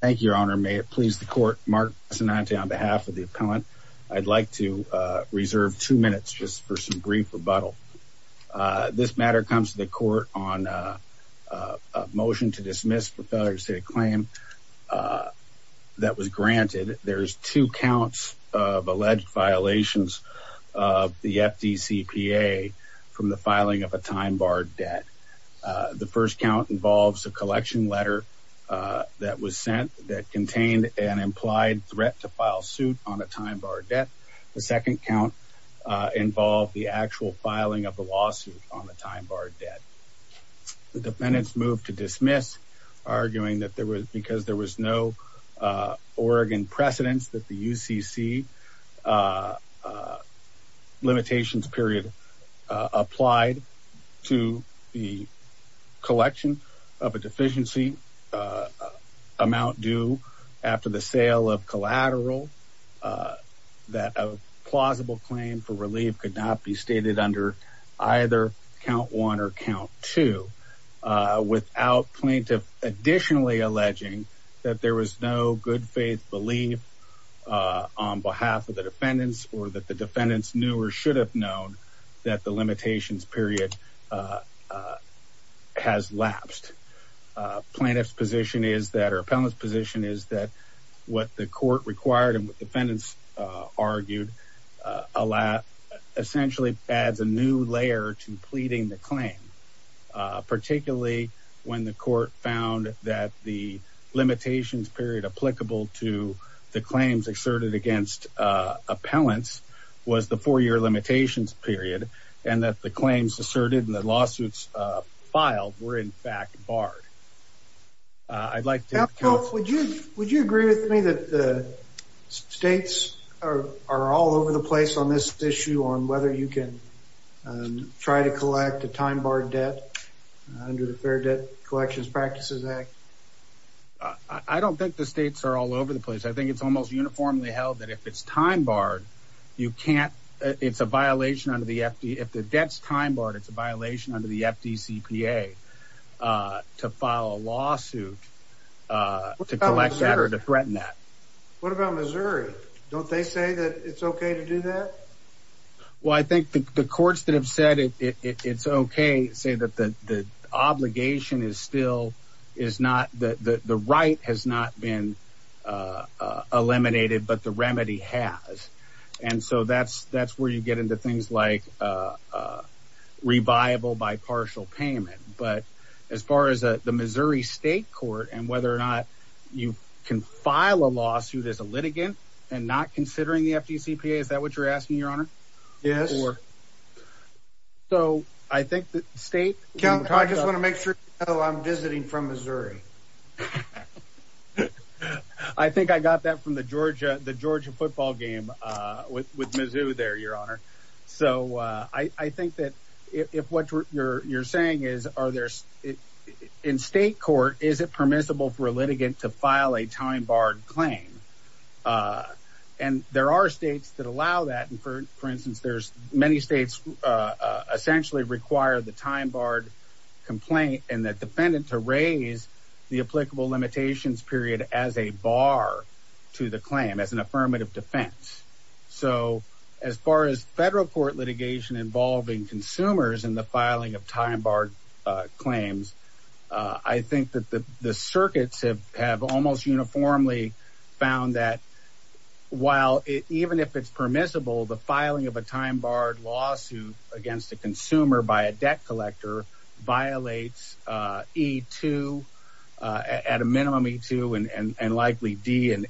Thank you, Your Honor. May it please the Court, Mark Sinanti on behalf of the appellant, I'd like to reserve two minutes just for some brief rebuttal. This matter comes to the Court on a motion to dismiss for failure to state a claim that was granted. There's two counts of alleged violations of the FDCPA from the filing of a time-barred debt. The first count involves a collection letter that was sent that contained an implied threat to file suit on a time- barred debt. The second count involved the actual filing of the lawsuit on the time-barred debt. The defendants moved to dismiss, arguing that there was because there was no Oregon precedence that the UCC limitations period applied to the deficiency amount due after the sale of collateral that a plausible claim for relief could not be stated under either count one or count two without plaintiff additionally alleging that there was no good faith belief on behalf of the defendants or that the defendants knew or should have known that the limitations period has lapsed. Plaintiff's position is that or appellant's position is that what the court required and what defendants argued essentially adds a new layer to pleading the claim. Particularly when the court found that the limitations period applicable to the claims exerted against appellants was the four-year limitations period and that the claims asserted in the lawsuits filed were in fact barred. I'd like to... Would you agree with me that the states are all over the place on this issue on whether you can try to collect a time-barred debt under the Fair Debt Collections Practices Act? I don't think the states are all over the place. I think it's almost uniformly held that if it's time-barred, you can't... It's a violation under the FD... If the debt's time-barred, it's a violation under the FDCPA to file a lawsuit to collect that or to threaten that. What about Missouri? Don't they say that it's okay to do that? Well, I think the courts that have said it's okay say that the obligation is still... The right has not been eliminated, but the remedy has. And so that's where you get into things like reviable by partial payment. But as far as the Missouri State Court and whether or not you can file a lawsuit as a litigant and not considering the FDCPA, is that what you're asking, Your Honor? Yes. So I think the state... I just want to make sure I'm visiting from Missouri. I think I got that from the Georgia football game with Mizzou there, Your Honor. So I think that if what you're saying is, are there... In state court, is it permissible for a litigant to file a time-barred claim? And there are states that allow that. And for instance, there's many states essentially require the time-barred complaint and that defendant to raise the applicable limitations period as a bar to the claim, as an affirmative defense. So as far as federal court litigation involving consumers in the filing of time-barred claims, I think that the circuits have almost uniformly found that while it even if it's permissible, the filing of a time-barred lawsuit against a consumer by a debt collector violates E-2, at a minimum E-2 and likely D and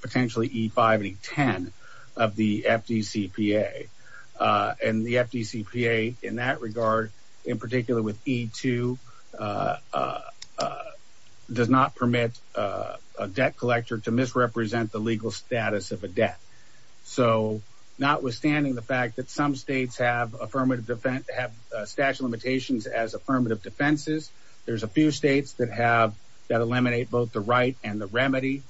potentially E-5 and E-10 of the FDCPA. And the FDCPA in that regard, in particular with E-2, does not permit a debt collector to misrepresent the legal status of a debt. So notwithstanding the fact that some states have affirmative defense, have statute of limitations as affirmative defenses, there's a few states that have, that eliminate both the right and the remedy.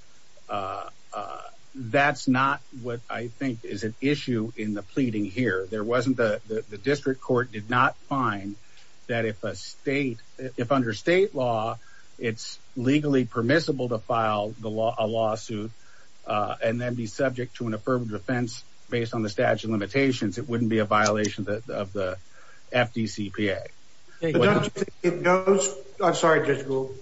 That's not what I think is an issue in the pleading here. There wasn't the, the district court did not find that if a state, if under state law, it's legally permissible to file the lawsuit and then be subject to an affirmative defense based on the statute of limitations, it wouldn't be a violation of the FDCPA. I'm sorry Judge Gould.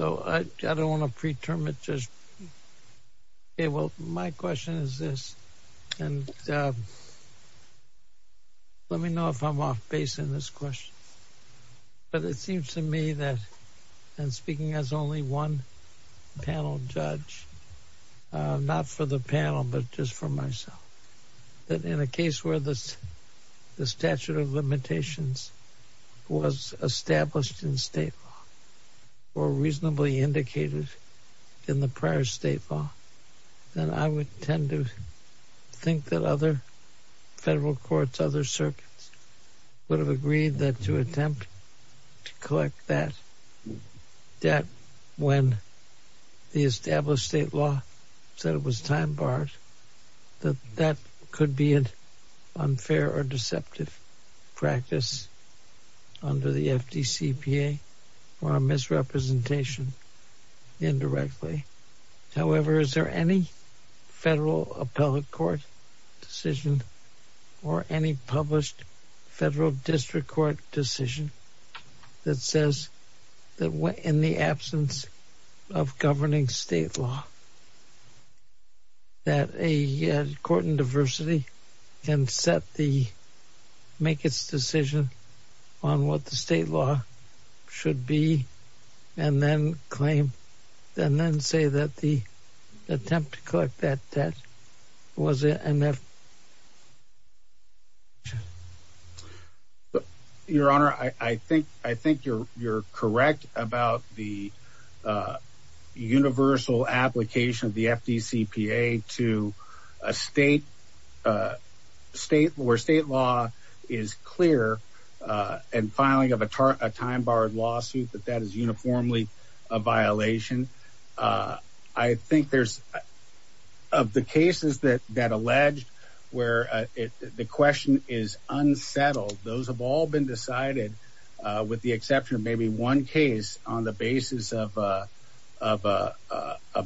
I don't want to pre-term it. Okay, well my question is this, and let me know if I'm off base in this question. But it seems to me that, and speaking as only one panel judge, not for the panel, but just for myself, that in a case where the statute of limitations was established in state law, or reasonably indicated in the prior state law, then I would tend to think that other federal courts, other circuits, would have agreed that to attempt to collect that debt when the established state law said it was time barred, that that could be an unfair or deceptive practice under the FDCPA or a misrepresentation indirectly. However, is there any federal appellate court decision or any published federal district court decision that says that in the absence of governing state law, that a court in diversity can set the, make its decision on what the state law should be, and then claim, and then say that the attempt to collect that debt was a misrepresentation? Your Honor, I think you're correct about the universal application of the FDCPA to a state, where state law is clear, and filing of a time barred lawsuit, that alleged, where the question is unsettled, those have all been decided, with the exception of maybe one case, on the basis of a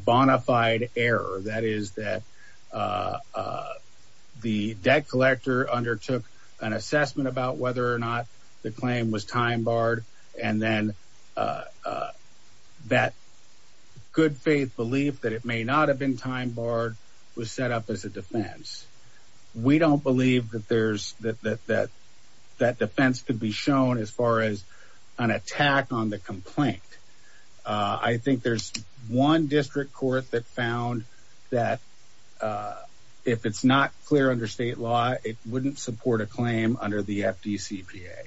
bona fide error. That is, that the debt collector undertook an assessment about whether or not the claim was time barred, and then that good faith belief that it may not have been time barred, was set up as a defense. We don't believe that there's, that that defense could be shown as far as an attack on the complaint. I think there's one district court that found that if it's not clear under state law, it wouldn't support a claim under the FDCPA.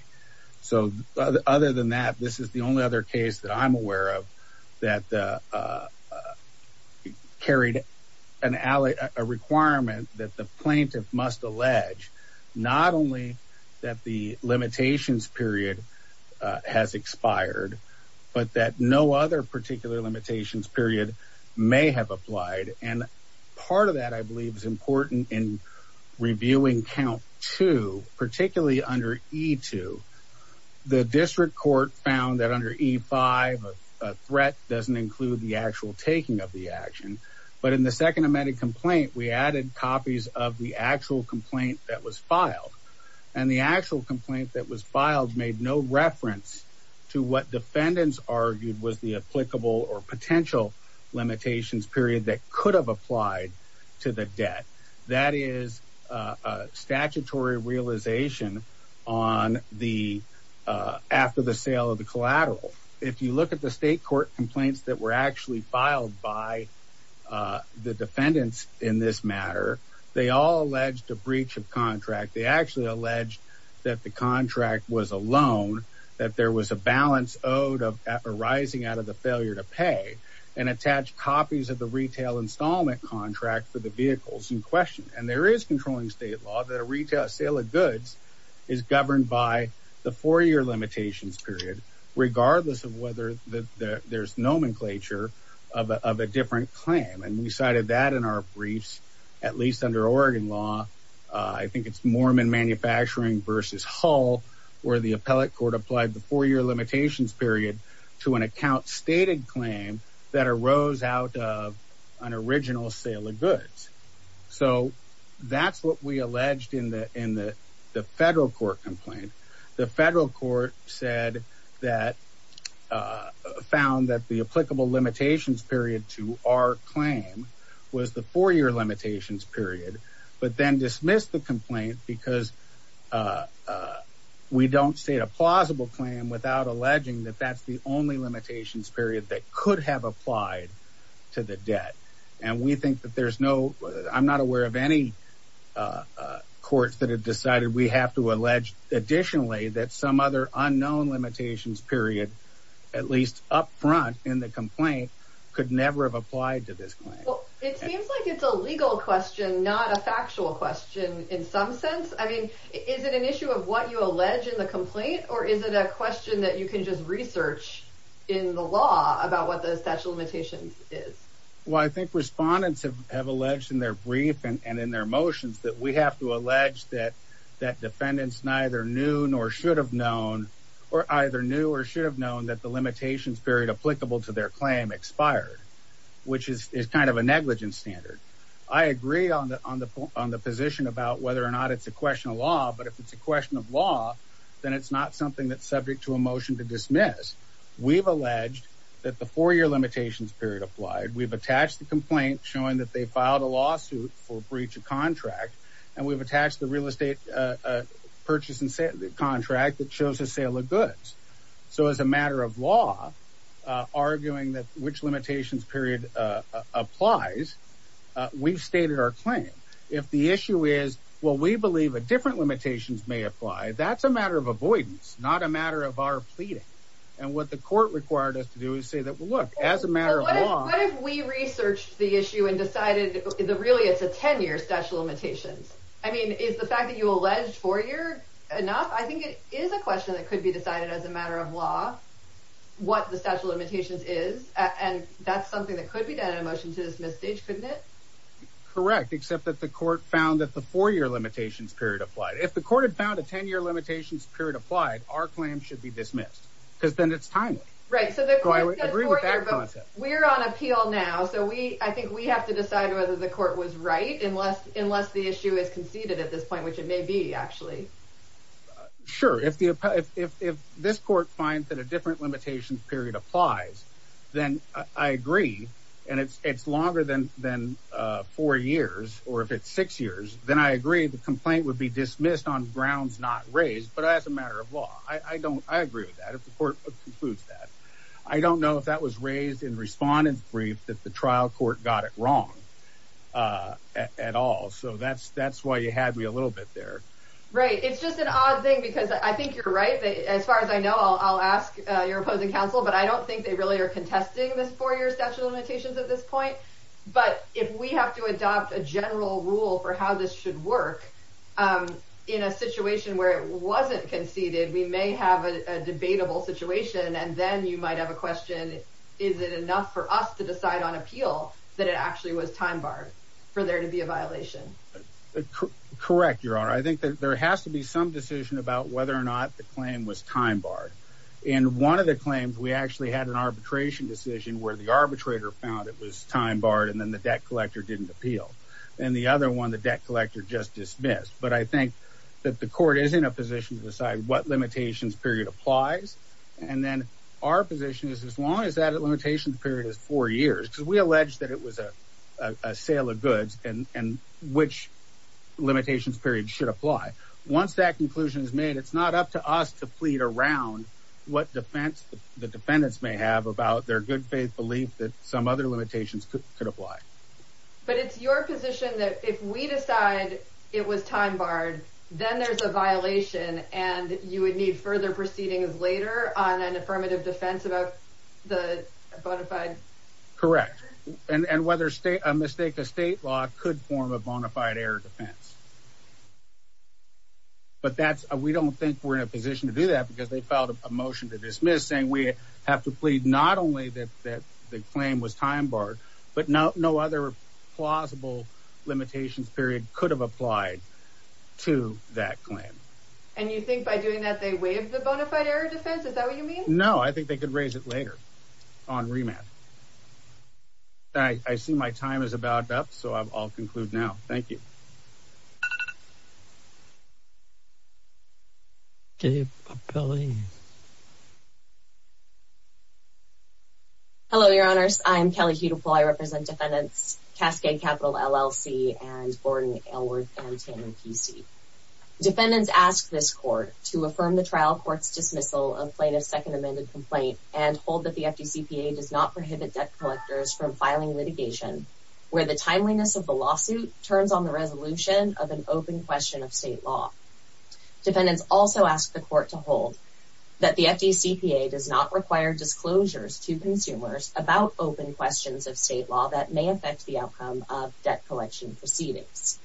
So, other than that, this is the only other case that I'm aware of, that carried a requirement that the plaintiff must allege, not only that the limitations period has expired, but that no other particular limitations period may have applied, and part of that, I believe, is important in reviewing count two, particularly under E2, the district court found that under E5, a threat doesn't include the actual taking of the action, but in the second amended complaint, we added copies of the actual complaint that was filed, and the actual complaint that was filed made no reference to what defendants argued was the applicable or potential limitations period that could have applied to the debt. That is a statutory realization on the, after the sale of the collateral. If you look at the state court complaints that were actually filed by the defendants in this matter, they all alleged a breach of contract. They actually alleged that the contract was a loan, that there was a balance owed of arising out of the failure to pay, and attached copies of the retail installment contract for the vehicles in question, and there is controlling state law that a retail sale of goods is governed by the four-year limitations period, regardless of whether there's nomenclature of a different claim, and we cited that in our briefs, at least under Oregon law, I think it's Mormon Manufacturing versus Hull, where the appellate court applied the four-year limitations period to an account-stated claim that arose out of an original sale of goods. So that's what we alleged in the federal court complaint. The federal court said that, found that the applicable limitations period to our claim was the four-year limitations period, but then dismissed the complaint because we don't state a plausible claim without alleging that that's the only limitations period that could have applied to the debt. And we think that there's no, I'm not aware of any courts that have decided we have to allege, additionally, that some other unknown limitations period, at least up front in the complaint, could never have applied to this claim. It seems like it's a legal question, not a factual question in some sense. I mean, is it an issue of what you allege in the complaint, or is it a question that you can just research in the law about what the statute of limitations is? Well, I think respondents have alleged in their brief and in their motions that we have to allege that defendants neither knew nor should have known, or either knew or should have known, that the limitations period applicable to their claim expired, which is kind of a negligence standard. I agree on the position about whether or not it's a question of law, but if it's a question of law, then it's not something that's subject to a motion to dismiss. We've alleged that the four-year limitations period applied. We've attached the complaint showing that they filed a lawsuit for breach of contract, and we've attached the real estate purchase and sale contract that shows a sale of goods. So as a matter of law, arguing that which limitations period applies, we've stated our claim. If the issue is, well, we believe a different limitations may apply, that's a matter of avoidance, not a matter of our pleading. And what the court required us to do is say that, well, look, as a matter of law. What if we researched the issue and decided that really it's a 10-year statute of limitations? I mean, is the fact that you alleged four-year enough? I think it is a question that could be decided as a matter of law, what the statute of limitations is. And that's something that could be done in a motion to dismiss stage, couldn't it? Correct, except that the court found that the four-year limitations period applied. If the court had found a 10-year limitations period applied, our claim should be dismissed because then it's timely. Right. So the court says four-year, but we're on appeal now. So we I think we have to decide whether the court was right unless unless the issue is conceded at this point, which it may be, actually. Sure. If the if this court finds that a different limitations period applies, then I agree. And it's it's longer than than four years or if it's six years, then I agree. The complaint would be dismissed on grounds not raised. But as a matter of law, I don't I agree with that. If the court includes that, I don't know if that was raised in respondent's brief that the trial court got it wrong at all. So that's that's why you had me a little bit there. Right. It's just an odd thing, because I think you're right. As far as I know, I'll ask your opposing counsel, but I don't think they really are contesting this four-year statute of limitations at this point. But if we have to adopt a general rule for how this should work in a situation where it wasn't conceded, we may have a debatable situation. And then you might have a question. Is it enough for us to decide on appeal that it actually was time barred for there to be a violation? Correct. Your Honor, I think that there has to be some decision about whether or not the claim was time barred. In one of the claims, we actually had an arbitration decision where the arbitrator found it was time barred and then the debt collector didn't appeal. And the other one, the debt collector just dismissed. But I think that the court is in a position to decide what limitations period applies. And then our position is as long as that limitation period is four years, because we know which limitations period should apply. Once that conclusion is made, it's not up to us to plead around what defense the defendants may have about their good faith belief that some other limitations could apply. But it's your position that if we decide it was time barred, then there's a violation and you would need further proceedings later on an affirmative defense about the bona fide. Correct. And whether state a mistake, a state law could form a bona fide air defense. But that's a we don't think we're in a position to do that because they filed a motion to dismiss saying we have to plead not only that that the claim was time barred, but now no other plausible limitations period could have applied to that claim. And you think by doing that, they waive the bona fide air defense. Is that what you mean? No, I think they could raise it later on remand. I see my time is about up, so I'll conclude now. Thank you. Dave, Billy. Hello, your honors, I'm Kelly, who do I represent defendants, Cascade Capital LLC and Borden, Ellworth and Tanner PC defendants ask this court to affirm the trial court's dismissal of plaintiff's second amended complaint and hold that the FTCPA does not prohibit debt collectors from filing litigation where the timeliness of the lawsuit turns on the resolution of an open question of state law. Defendants also ask the court to hold that the FTCPA does not require disclosures to consumers about open questions of state law that may affect the outcome of debt collection proceedings.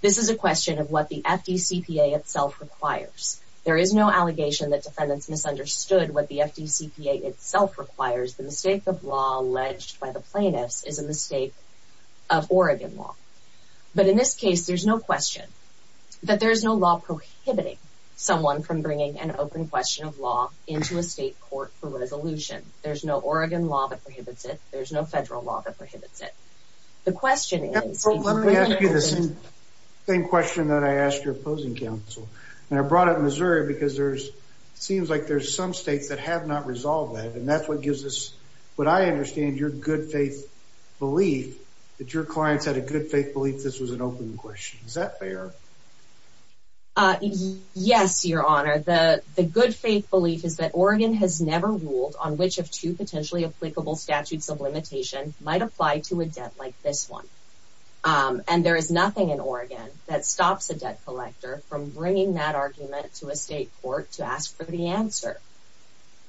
This is a question of what the FTCPA itself requires. There is no allegation that defendants misunderstood what the FTCPA itself requires. The mistake of law alleged by the plaintiffs is a mistake of Oregon law. But in this case, there's no question that there is no law prohibiting someone from bringing an open question of law into a state court for resolution. There's no Oregon law that prohibits it. There's no federal law that prohibits it. The question is, let me ask you the same question that I asked your opposing counsel and I brought up Missouri because there's seems like there's some states that have not resolved that. And that's what gives us what I understand your good faith belief that your clients had a good faith belief this was an open question. Is that fair? Yes, your honor, the good faith belief is that Oregon has never ruled on which of two potentially applicable statutes of limitation might apply to a debt like this one. And there is nothing in Oregon that stops a debt collector from bringing that argument to a state court to ask for the answer.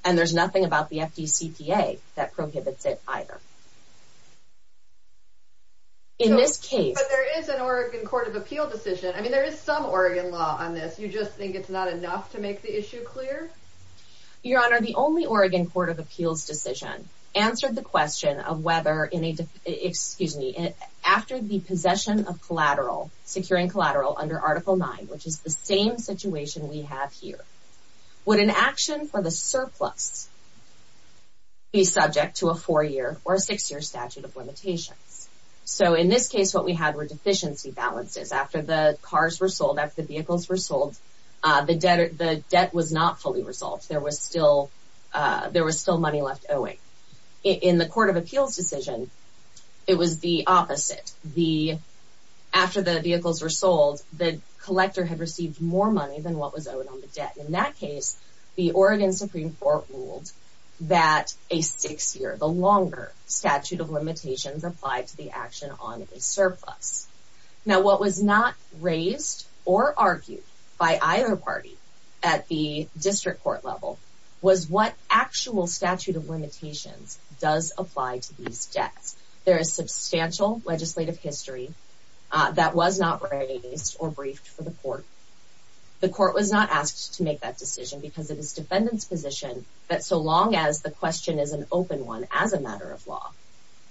And there's nothing about the FDCPA that prohibits it either. In this case, there is an Oregon Court of Appeal decision. I mean, there is some Oregon law on this. You just think it's not enough to make the issue clear. Your honor, the only Oregon Court of Appeals decision answered the question of whether in a excuse me, after the possession of collateral securing collateral under Article 9, which is the same situation we have here. Would an action for the surplus be subject to a four year or six year statute of limitations? So in this case, what we had were deficiency balances after the cars were sold, after the vehicles were sold, the debt, the debt was not fully resolved. There was still there was still money left owing. In the Court of Appeals decision, it was the opposite. The after the vehicles were sold, the collector had received more money than what was owed on the debt. In that case, the Oregon Supreme Court ruled that a six year, the longer statute of limitations applied to the action on a surplus. Now, what was not raised or argued by either party at the district court level was what actual statute of limitations does apply to these debts. There is substantial legislative history that was not raised or briefed for the court. The court was not asked to make that decision because it is defendant's position that so long as the question is an open one as a matter of law,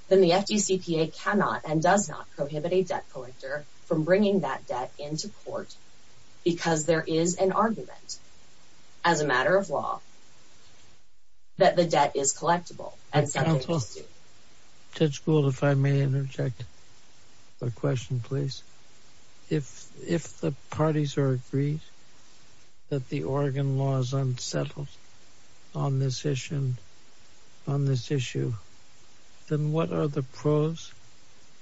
then the FDCPA cannot and does not prohibit a debt collector from bringing that debt into court because there is an argument as a matter of law. That the debt is collectible and sentenced to school, if I may interject a question, please. If if the parties are agreed that the Oregon law is unsettled on this issue, then what are the pros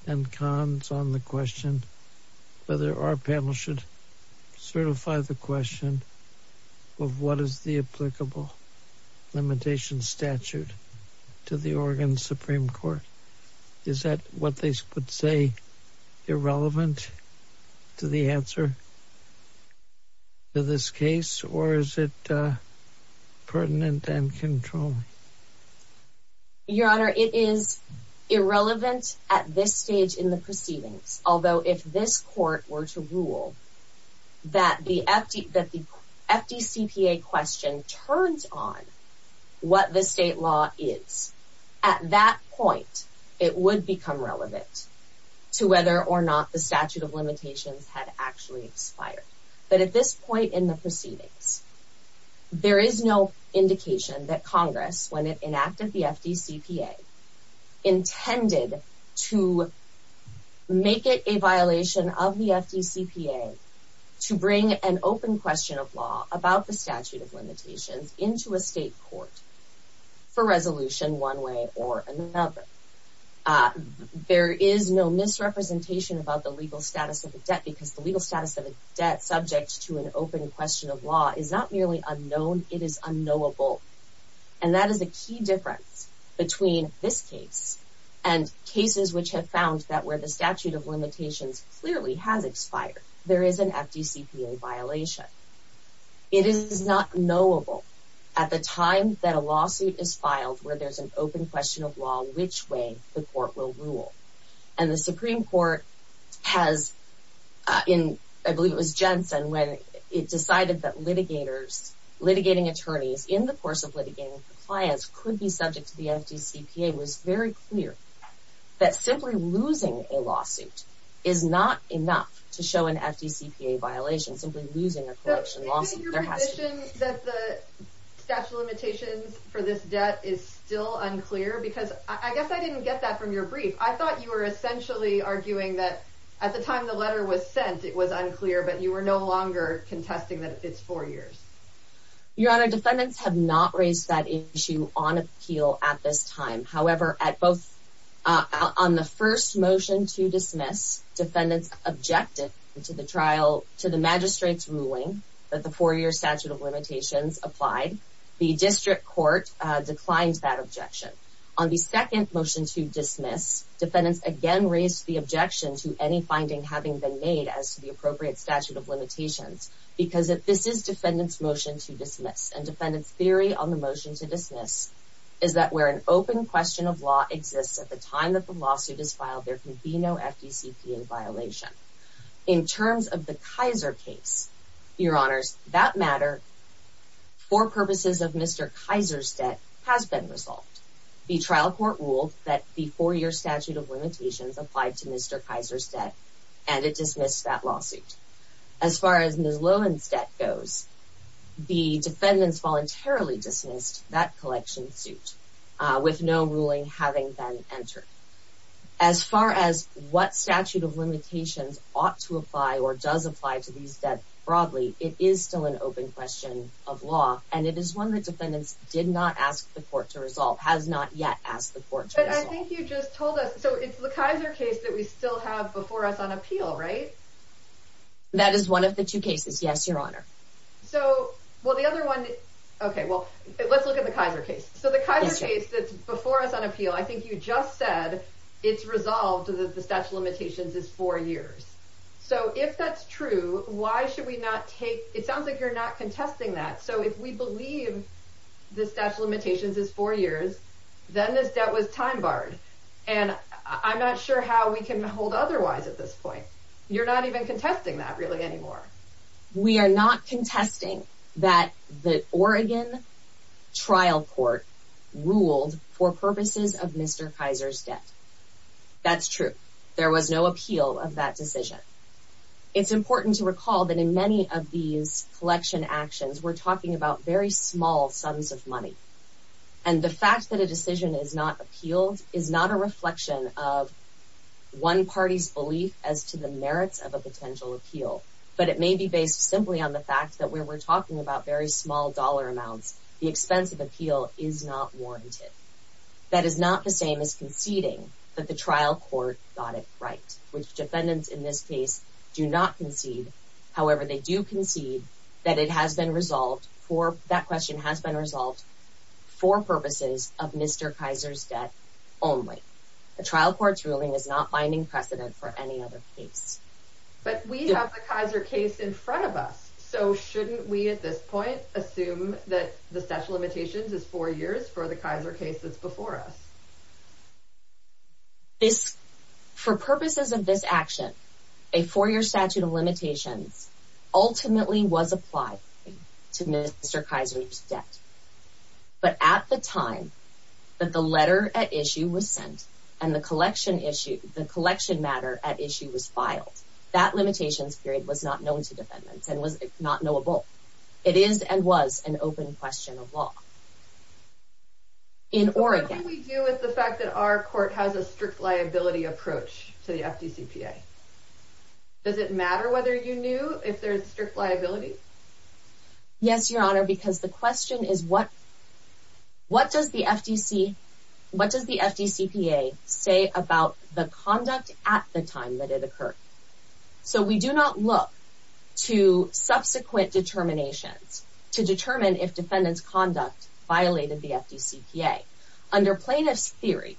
and cons on the question whether our panel should certify the question of what is the applicable limitation statute to the Oregon Supreme Court? Is that what they would say irrelevant to the answer to this case, or is it pertinent and controlled? Your Honor, it is irrelevant at this stage in the proceedings, although if this court were to rule that the FD that the FDCPA question turns on what the state law is at that point, it would become relevant to whether or not the statute of limitations had actually expired. But at this point in the proceedings, there is no indication that Congress, when it enacted the FDCPA, intended to make it a violation of the FDCPA to bring an open question of law about the statute of limitations into a state court for resolution one way or another. There is no misrepresentation about the legal status of the debt because the legal status of a debt subject to an open question of law is not merely unknown, it is unknowable. And that is a key difference between this case and cases which have found that where the statute of limitations clearly has expired, there is an FDCPA violation. It is not knowable at the time that a lawsuit is filed where there's an open question of law, which way the court will rule. And the Supreme Court has in, I believe it was Jensen, when it decided that litigators, litigating attorneys in the course of litigating clients could be subject to the FDCPA, was very clear that simply losing a lawsuit is not enough to show an FDCPA violation, simply losing a collection lawsuit. Is it your position that the statute of limitations for this debt is still unclear? Because I guess I didn't get that from your brief. I thought you were essentially arguing that at the time the letter was sent, it was unclear, but you were no longer contesting that it's four years. Your Honor, defendants have not raised that issue on appeal at this time. However, on the first motion to dismiss, defendants objected to the trial, to the magistrate's ruling that the four-year statute of limitations applied. The district court declined that objection. On the second motion to dismiss, defendants again raised the objection to any finding having been made as to the appropriate statute of limitations, because this is defendant's motion to dismiss. And defendant's theory on the motion to dismiss is that where an open question of law exists at the time that the lawsuit is filed, there can be no FDCPA violation. In terms of the Kaiser case, Your Honors, that matter for purposes of Mr. Kaiser's debt has been resolved. The trial court ruled that the four-year statute of limitations applied to Mr. Kaiser's debt, and it dismissed that lawsuit. As far as Ms. Lowen's debt goes, the defendants voluntarily dismissed that collection suit with no ruling having been entered. As far as what statute of limitations ought to apply or does apply to these debt broadly, it is still an open question of law, and it is one that defendants did not ask the court to resolve, has not yet asked the court to resolve. But I think you just told us, so it's the Kaiser case that we still have before us on appeal, right? That is one of the two cases, yes, Your Honor. So, well, the other one, okay, well, let's look at the Kaiser case. So, the Kaiser case that's before us on appeal, I think you just said it's resolved that the statute of limitations is four years. So, if that's true, why should we not take, it sounds like you're not contesting that. So, if we believe the statute of limitations is four years, then this debt was time barred, and I'm not sure how we can hold otherwise at this point. You're not even contesting that really anymore. We are not contesting that the Oregon trial court ruled for purposes of Mr. Kaiser's debt. That's true. There was no appeal of that decision. It's important to recall that in many of these collection actions, we're talking about very small sums of money, and the fact that a decision is not appealed is not a It may be based simply on the fact that when we're talking about very small dollar amounts, the expense of appeal is not warranted. That is not the same as conceding that the trial court got it right, which defendants in this case do not concede. However, they do concede that it has been resolved for, that question has been resolved for purposes of Mr. Kaiser's debt only. The trial court's ruling is not finding precedent for any other case. But we have the Kaiser case in front of us, so shouldn't we, at this point, assume that the statute of limitations is four years for the Kaiser case that's before us? This, for purposes of this action, a four year statute of limitations ultimately was applied to Mr. Kaiser's debt. But at the time that the letter at issue was sent and the collection issue, the That limitations period was not known to defendants and was not knowable. It is and was an open question of law. In Oregon, we deal with the fact that our court has a strict liability approach to the FDCPA. Does it matter whether you knew if there's strict liability? Yes, Your Honor, because the question is what? What does the FDC, what does the FDCPA say about the conduct at the time that it occurred? So we do not look to subsequent determinations to determine if defendants conduct violated the FDCPA. Under plaintiff's theory,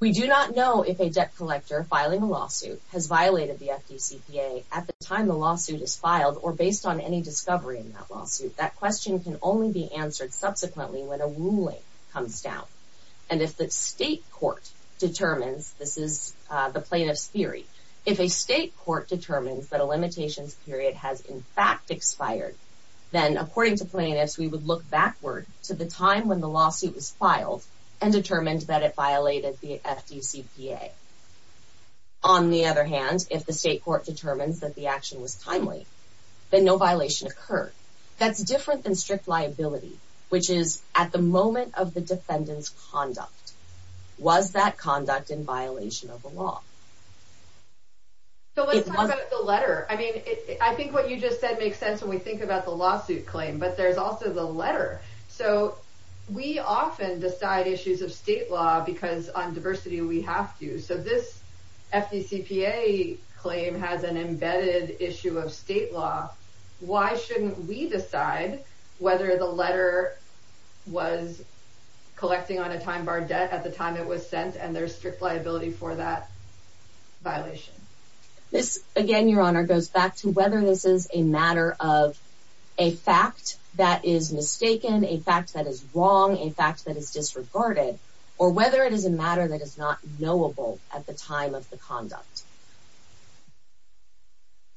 we do not know if a debt collector filing a lawsuit has violated the FDCPA at the time the lawsuit is filed or based on any discovery in that lawsuit. That question can only be answered subsequently when a ruling comes down. And if the state court determines this is the plaintiff's theory, if a state court determines that a limitations period has in fact expired, then according to plaintiffs, we would look backward to the time when the lawsuit was filed and determined that it violated the FDCPA. On the other hand, if the state court determines that the action was timely, then no violation occurred. That's different than strict liability, which is at the moment of the defendant's conduct. Was that conduct in violation of the law? So let's talk about the letter. I mean, I think what you just said makes sense when we think about the lawsuit claim, but there's also the letter. So we often decide issues of state law because on diversity we have to. So this FDCPA claim has an embedded issue of state law. Why shouldn't we decide whether the letter was collecting on a time bar debt at the time it was sent and there's strict liability for that violation? This, again, Your Honor, goes back to whether this is a matter of a fact that is mistaken, a fact that is wrong, a fact that is disregarded, or whether it is a matter that is not knowable at the time of the conduct.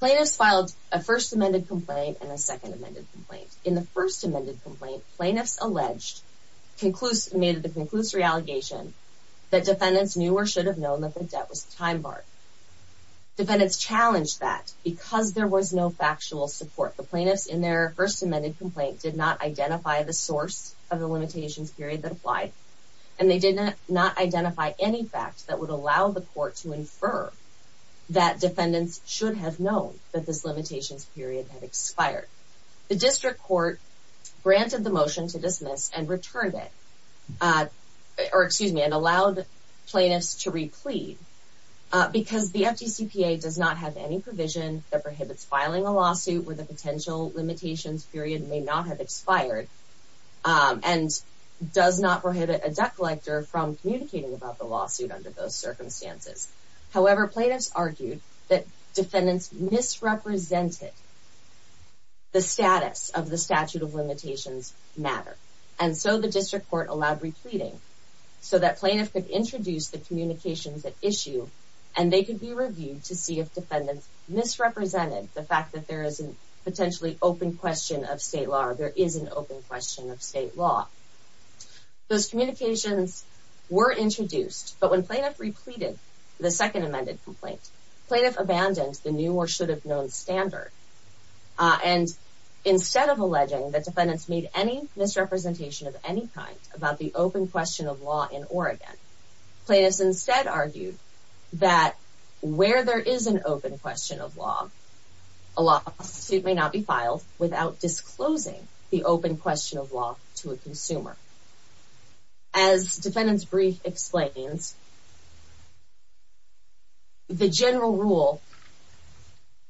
Plaintiffs filed a first amended complaint and a second amended complaint. In the first amended complaint, plaintiffs alleged, made the conclusory allegation that defendants knew or should have known that the debt was a time bar. Defendants challenged that because there was no factual support. The plaintiffs in their first amended complaint did not identify the source of the limitations period that applied, and they did not identify any facts that would allow the court to infer that defendants should have known that this limitations period had expired. The district court granted the motion to dismiss and returned it, or excuse me, and allowed plaintiffs to replead because the FDCPA does not have any provision that prohibits filing a lawsuit where the potential limitations period may not have expired and does not However, plaintiffs argued that defendants misrepresented the status of the statute of limitations matter, and so the district court allowed repleating so that plaintiffs could introduce the communications at issue and they could be reviewed to see if defendants misrepresented the fact that there is a potentially open question of state law or there is an open question of state law. Those communications were introduced, but when plaintiffs repleaded the second amended complaint, plaintiffs abandoned the new or should have known standard. And instead of alleging that defendants made any misrepresentation of any kind about the open question of law in Oregon, plaintiffs instead argued that where there is an open question of law, a lawsuit may not be filed without disclosing the open question of law to a consumer. As defendant's brief explains, the general rule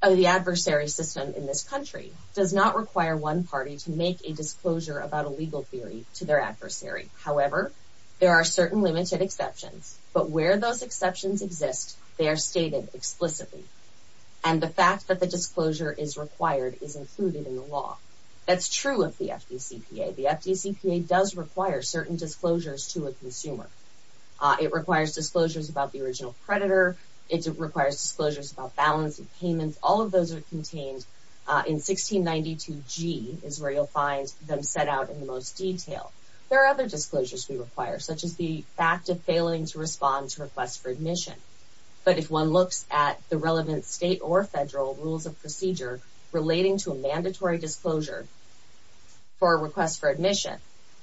of the adversary system in this country does not require one party to make a disclosure about a legal theory to their adversary. However, there are certain limited exceptions, but where those exceptions exist, they are stated explicitly, and the fact that the disclosure is required is included in the law. That's true of the FDCPA. The FDCPA does require certain disclosures to a consumer. It requires disclosures about the original predator. It requires disclosures about balance of payments. All of those are contained in 1692G is where you'll find them set out in the most detail. There are other disclosures we require, such as the fact of failing to respond to requests for admission. But if one looks at the relevant state or federal rules of procedure relating to a disclosure for a request for admission,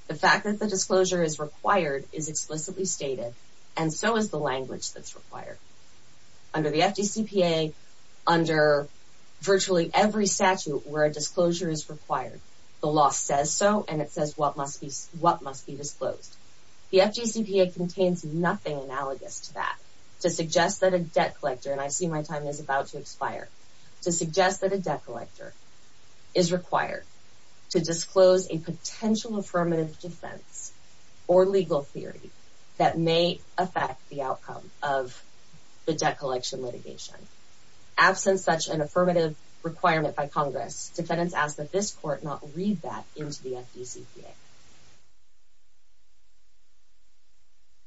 the fact that the disclosure is required is explicitly stated, and so is the language that's required. Under the FDCPA, under virtually every statute where a disclosure is required, the law says so, and it says what must be disclosed. The FDCPA contains nothing analogous to that to suggest that a debt collector, and I see to disclose a potential affirmative defense or legal theory that may affect the outcome of the debt collection litigation. Absent such an affirmative requirement by Congress, defendants ask that this court not read that into the FDCPA.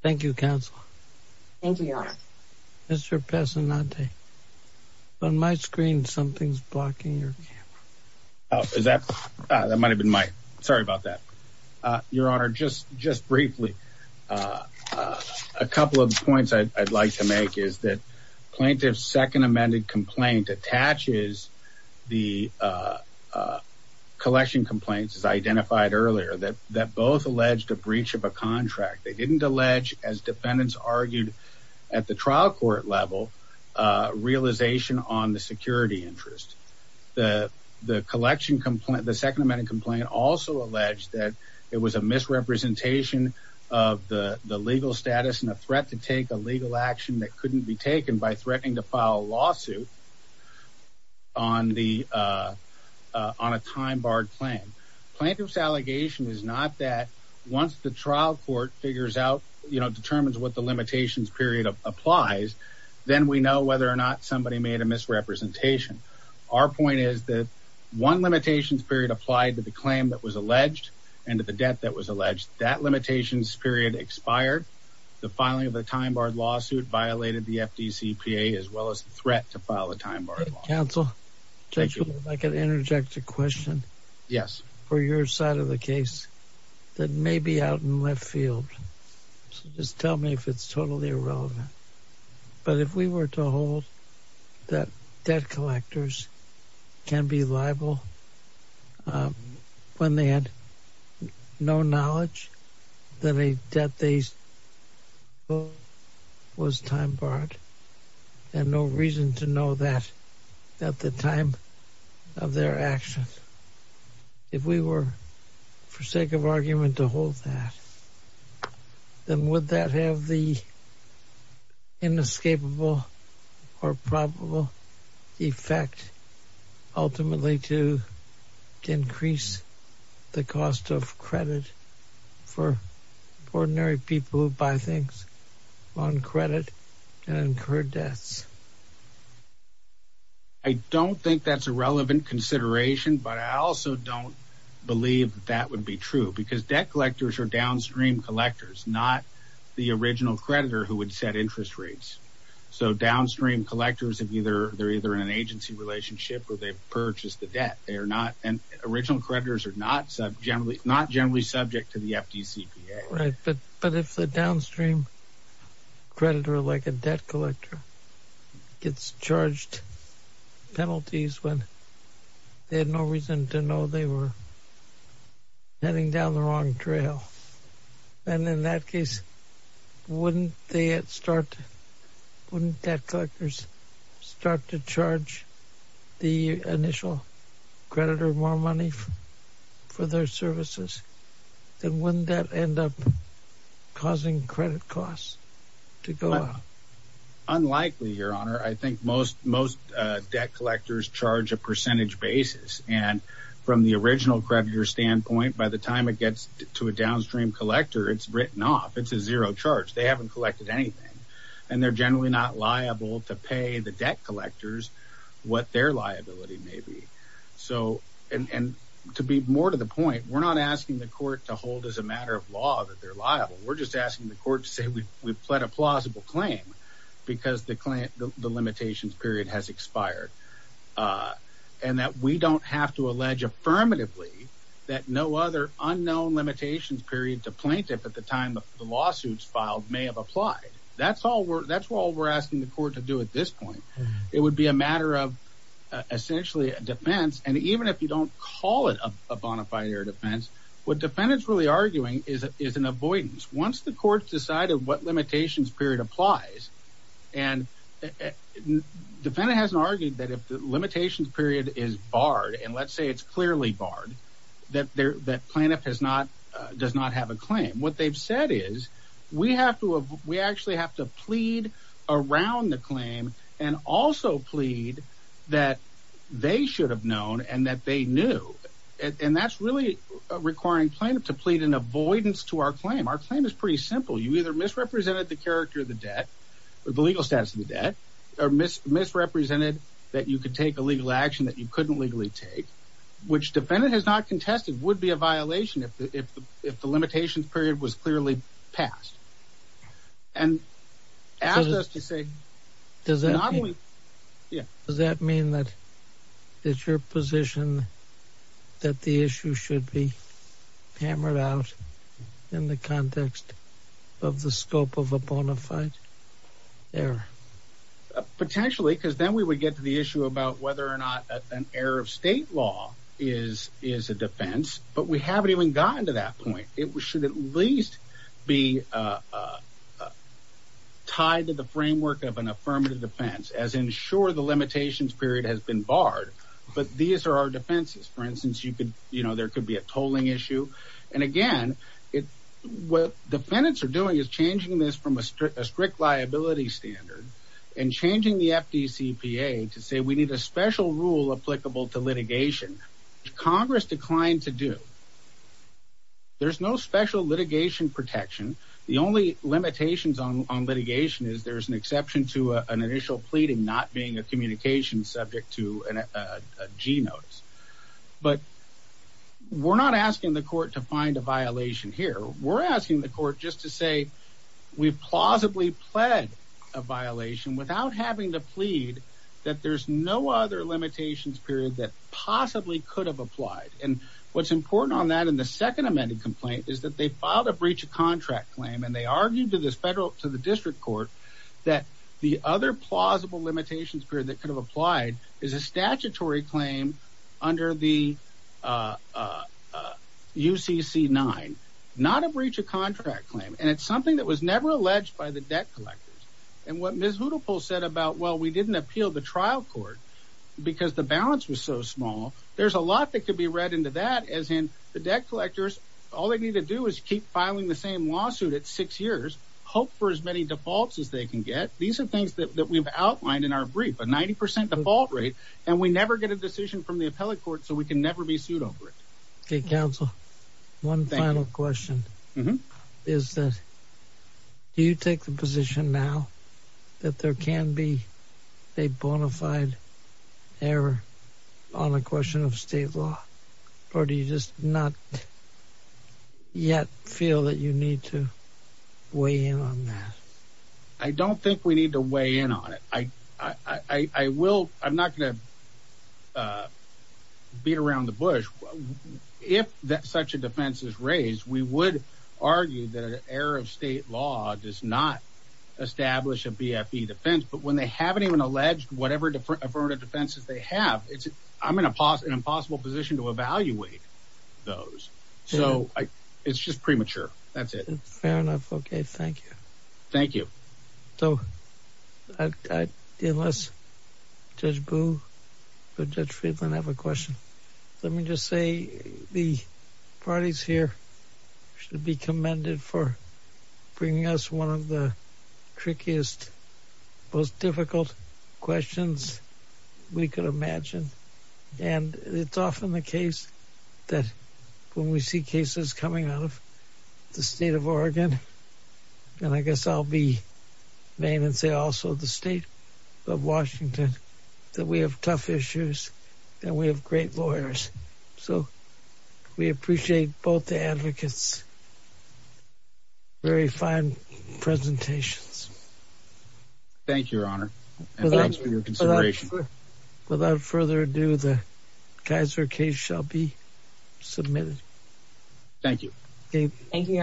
Thank you, Counsel. Thank you, Your Honor. Mr. Pesonante, on my screen, something's blocking your camera. Oh, is that? That might have been my... Sorry about that. Your Honor, just briefly, a couple of points I'd like to make is that plaintiff's second amended complaint attaches the collection complaints, as identified earlier, that both alleged a breach of a contract. They didn't allege, as defendants argued at the trial court level, realization on the security interest. The collection complaint, the second amended complaint also alleged that it was a misrepresentation of the legal status and a threat to take a legal action that couldn't be taken by threatening to file a lawsuit on a time-barred claim. Plaintiff's allegation is not that once the trial court figures out, determines what the limitations period applies, then we know whether or not somebody made a misrepresentation. Our point is that one limitations period applied to the claim that was alleged and to the debt that was alleged. That limitations period expired. The filing of a time-barred lawsuit violated the FDCPA, as well as the threat to file a time-barred lawsuit. Counsel, if I could interject a question. Yes. For your side of the case that may be out in left field. So just tell me if it's totally irrelevant. But if we were to hold that debt collectors can be liable when they had no knowledge that a debt they owe was time-barred and no reason to know that at the time of their action. If we were for sake of argument to hold that, then would that have the inescapable or probable effect ultimately to increase the cost of credit for ordinary people who buy things on credit and incur debts? I don't think that's a relevant consideration, but I also don't believe that would be true because debt collectors are downstream collectors, not the original creditor who would set interest rates. So downstream collectors have either, they're either in an agency relationship or they've purchased the debt. They are not, and original creditors are not generally, not generally subject to the FDCPA. Right. But if the downstream creditor, like a debt collector, gets charged penalties when they had no reason to know they were heading down the wrong trail, then in that case, wouldn't they start, wouldn't debt collectors start to charge the initial creditor more money for their services? Then wouldn't that end up causing credit costs to go up? Unlikely, Your Honor. I think most debt collectors charge a percentage basis, and from the original creditor standpoint, by the time it gets to a downstream collector, it's written off. It's a zero charge. They haven't collected anything, and they're generally not liable to pay the debt collectors what their liability may be. So, and to be more to the point, we're not asking the court to hold as a matter of law that they're liable. We're just asking the court to say we've pled a plausible claim because the limitations period has expired, and that we don't have to allege affirmatively that no other unknown limitations period to plaintiff at the time the lawsuit's filed may have applied. That's all we're, that's all we're asking the court to do at this point. It would be a matter of essentially a defense, and even if you don't call it a bona fide or defense, what defendant's really arguing is an avoidance. Once the court's decided what limitations period applies, and defendant hasn't argued that if the limitations period is barred, and let's say it's clearly barred, that plaintiff does not have a claim. What they've said is we have to, we actually have to plead around the claim, and also plead that they should have known, and that they knew, and that's really requiring plaintiff to plead an avoidance to our claim. Our claim is pretty simple. You either misrepresented the character of the debt, or the legal status of the debt, or misrepresented that you could take a legal action that you couldn't legally take, which limitations period was clearly passed, and ask us to say, does that mean that it's your position that the issue should be hammered out in the context of the scope of a bona fide error? Potentially, because then we would get to the issue about whether or not an error of state law is a defense, but we haven't even gotten to that point. It should at least be tied to the framework of an affirmative defense, as in sure the limitations period has been barred, but these are our defenses. For instance, there could be a tolling issue, and again, what defendants are doing is changing this from a strict liability standard, and changing the FDCPA to say we need a special rule applicable to litigation. Congress declined to do. There's no special litigation protection. The only limitations on litigation is there's an exception to an initial pleading not being a communication subject to a G notice, but we're not asking the court to find a violation here. We're asking the court just to say we plausibly pled a violation without having to plead that there's no other limitations period that possibly could have applied, and what's important on that in the second amended complaint is that they filed a breach of contract claim, and they argued to the district court that the other plausible limitations period that could have applied is a statutory claim under the UCC-9, not a breach of contract claim, and it's something that was never alleged by the debt collectors. And what Ms. Huddlepole said about, well, we didn't appeal the trial court because the balance was so small, there's a lot that could be read into that as in the debt collectors, all they need to do is keep filing the same lawsuit at six years, hope for as many defaults as they can get. These are things that we've outlined in our brief, a 90% default rate, and we never get a decision from the appellate court, so we can never be sued over it. Okay, counsel, one final question is that do you take the position now that there can be a bona fide error on a question of state law, or do you just not yet feel that you need to weigh in on that? I don't think we need to weigh in on it. I'm not going to beat around the bush. If such a defense is raised, we would argue that an error of state law does not establish a BFE defense, but when they haven't even alleged whatever affirmative defenses they have, I'm in an impossible position to evaluate those, so it's just premature. That's it. Fair enough. Okay, thank you. Thank you. So, unless Judge Boo or Judge Friedland have a question, let me just say the parties here should be commended for bringing us one of the trickiest, most difficult questions we could imagine, and it's often the case that when we see cases coming out of the state of Oregon, and I guess I'll be vain and say also the state of Washington, that we have tough issues and we have great lawyers. So, we appreciate both the advocates' very fine presentations. Thank you, Your Honor, and thanks for your consideration. Without further ado, the Kaiser case shall be submitted. Thank you. Thank you, Your Honor.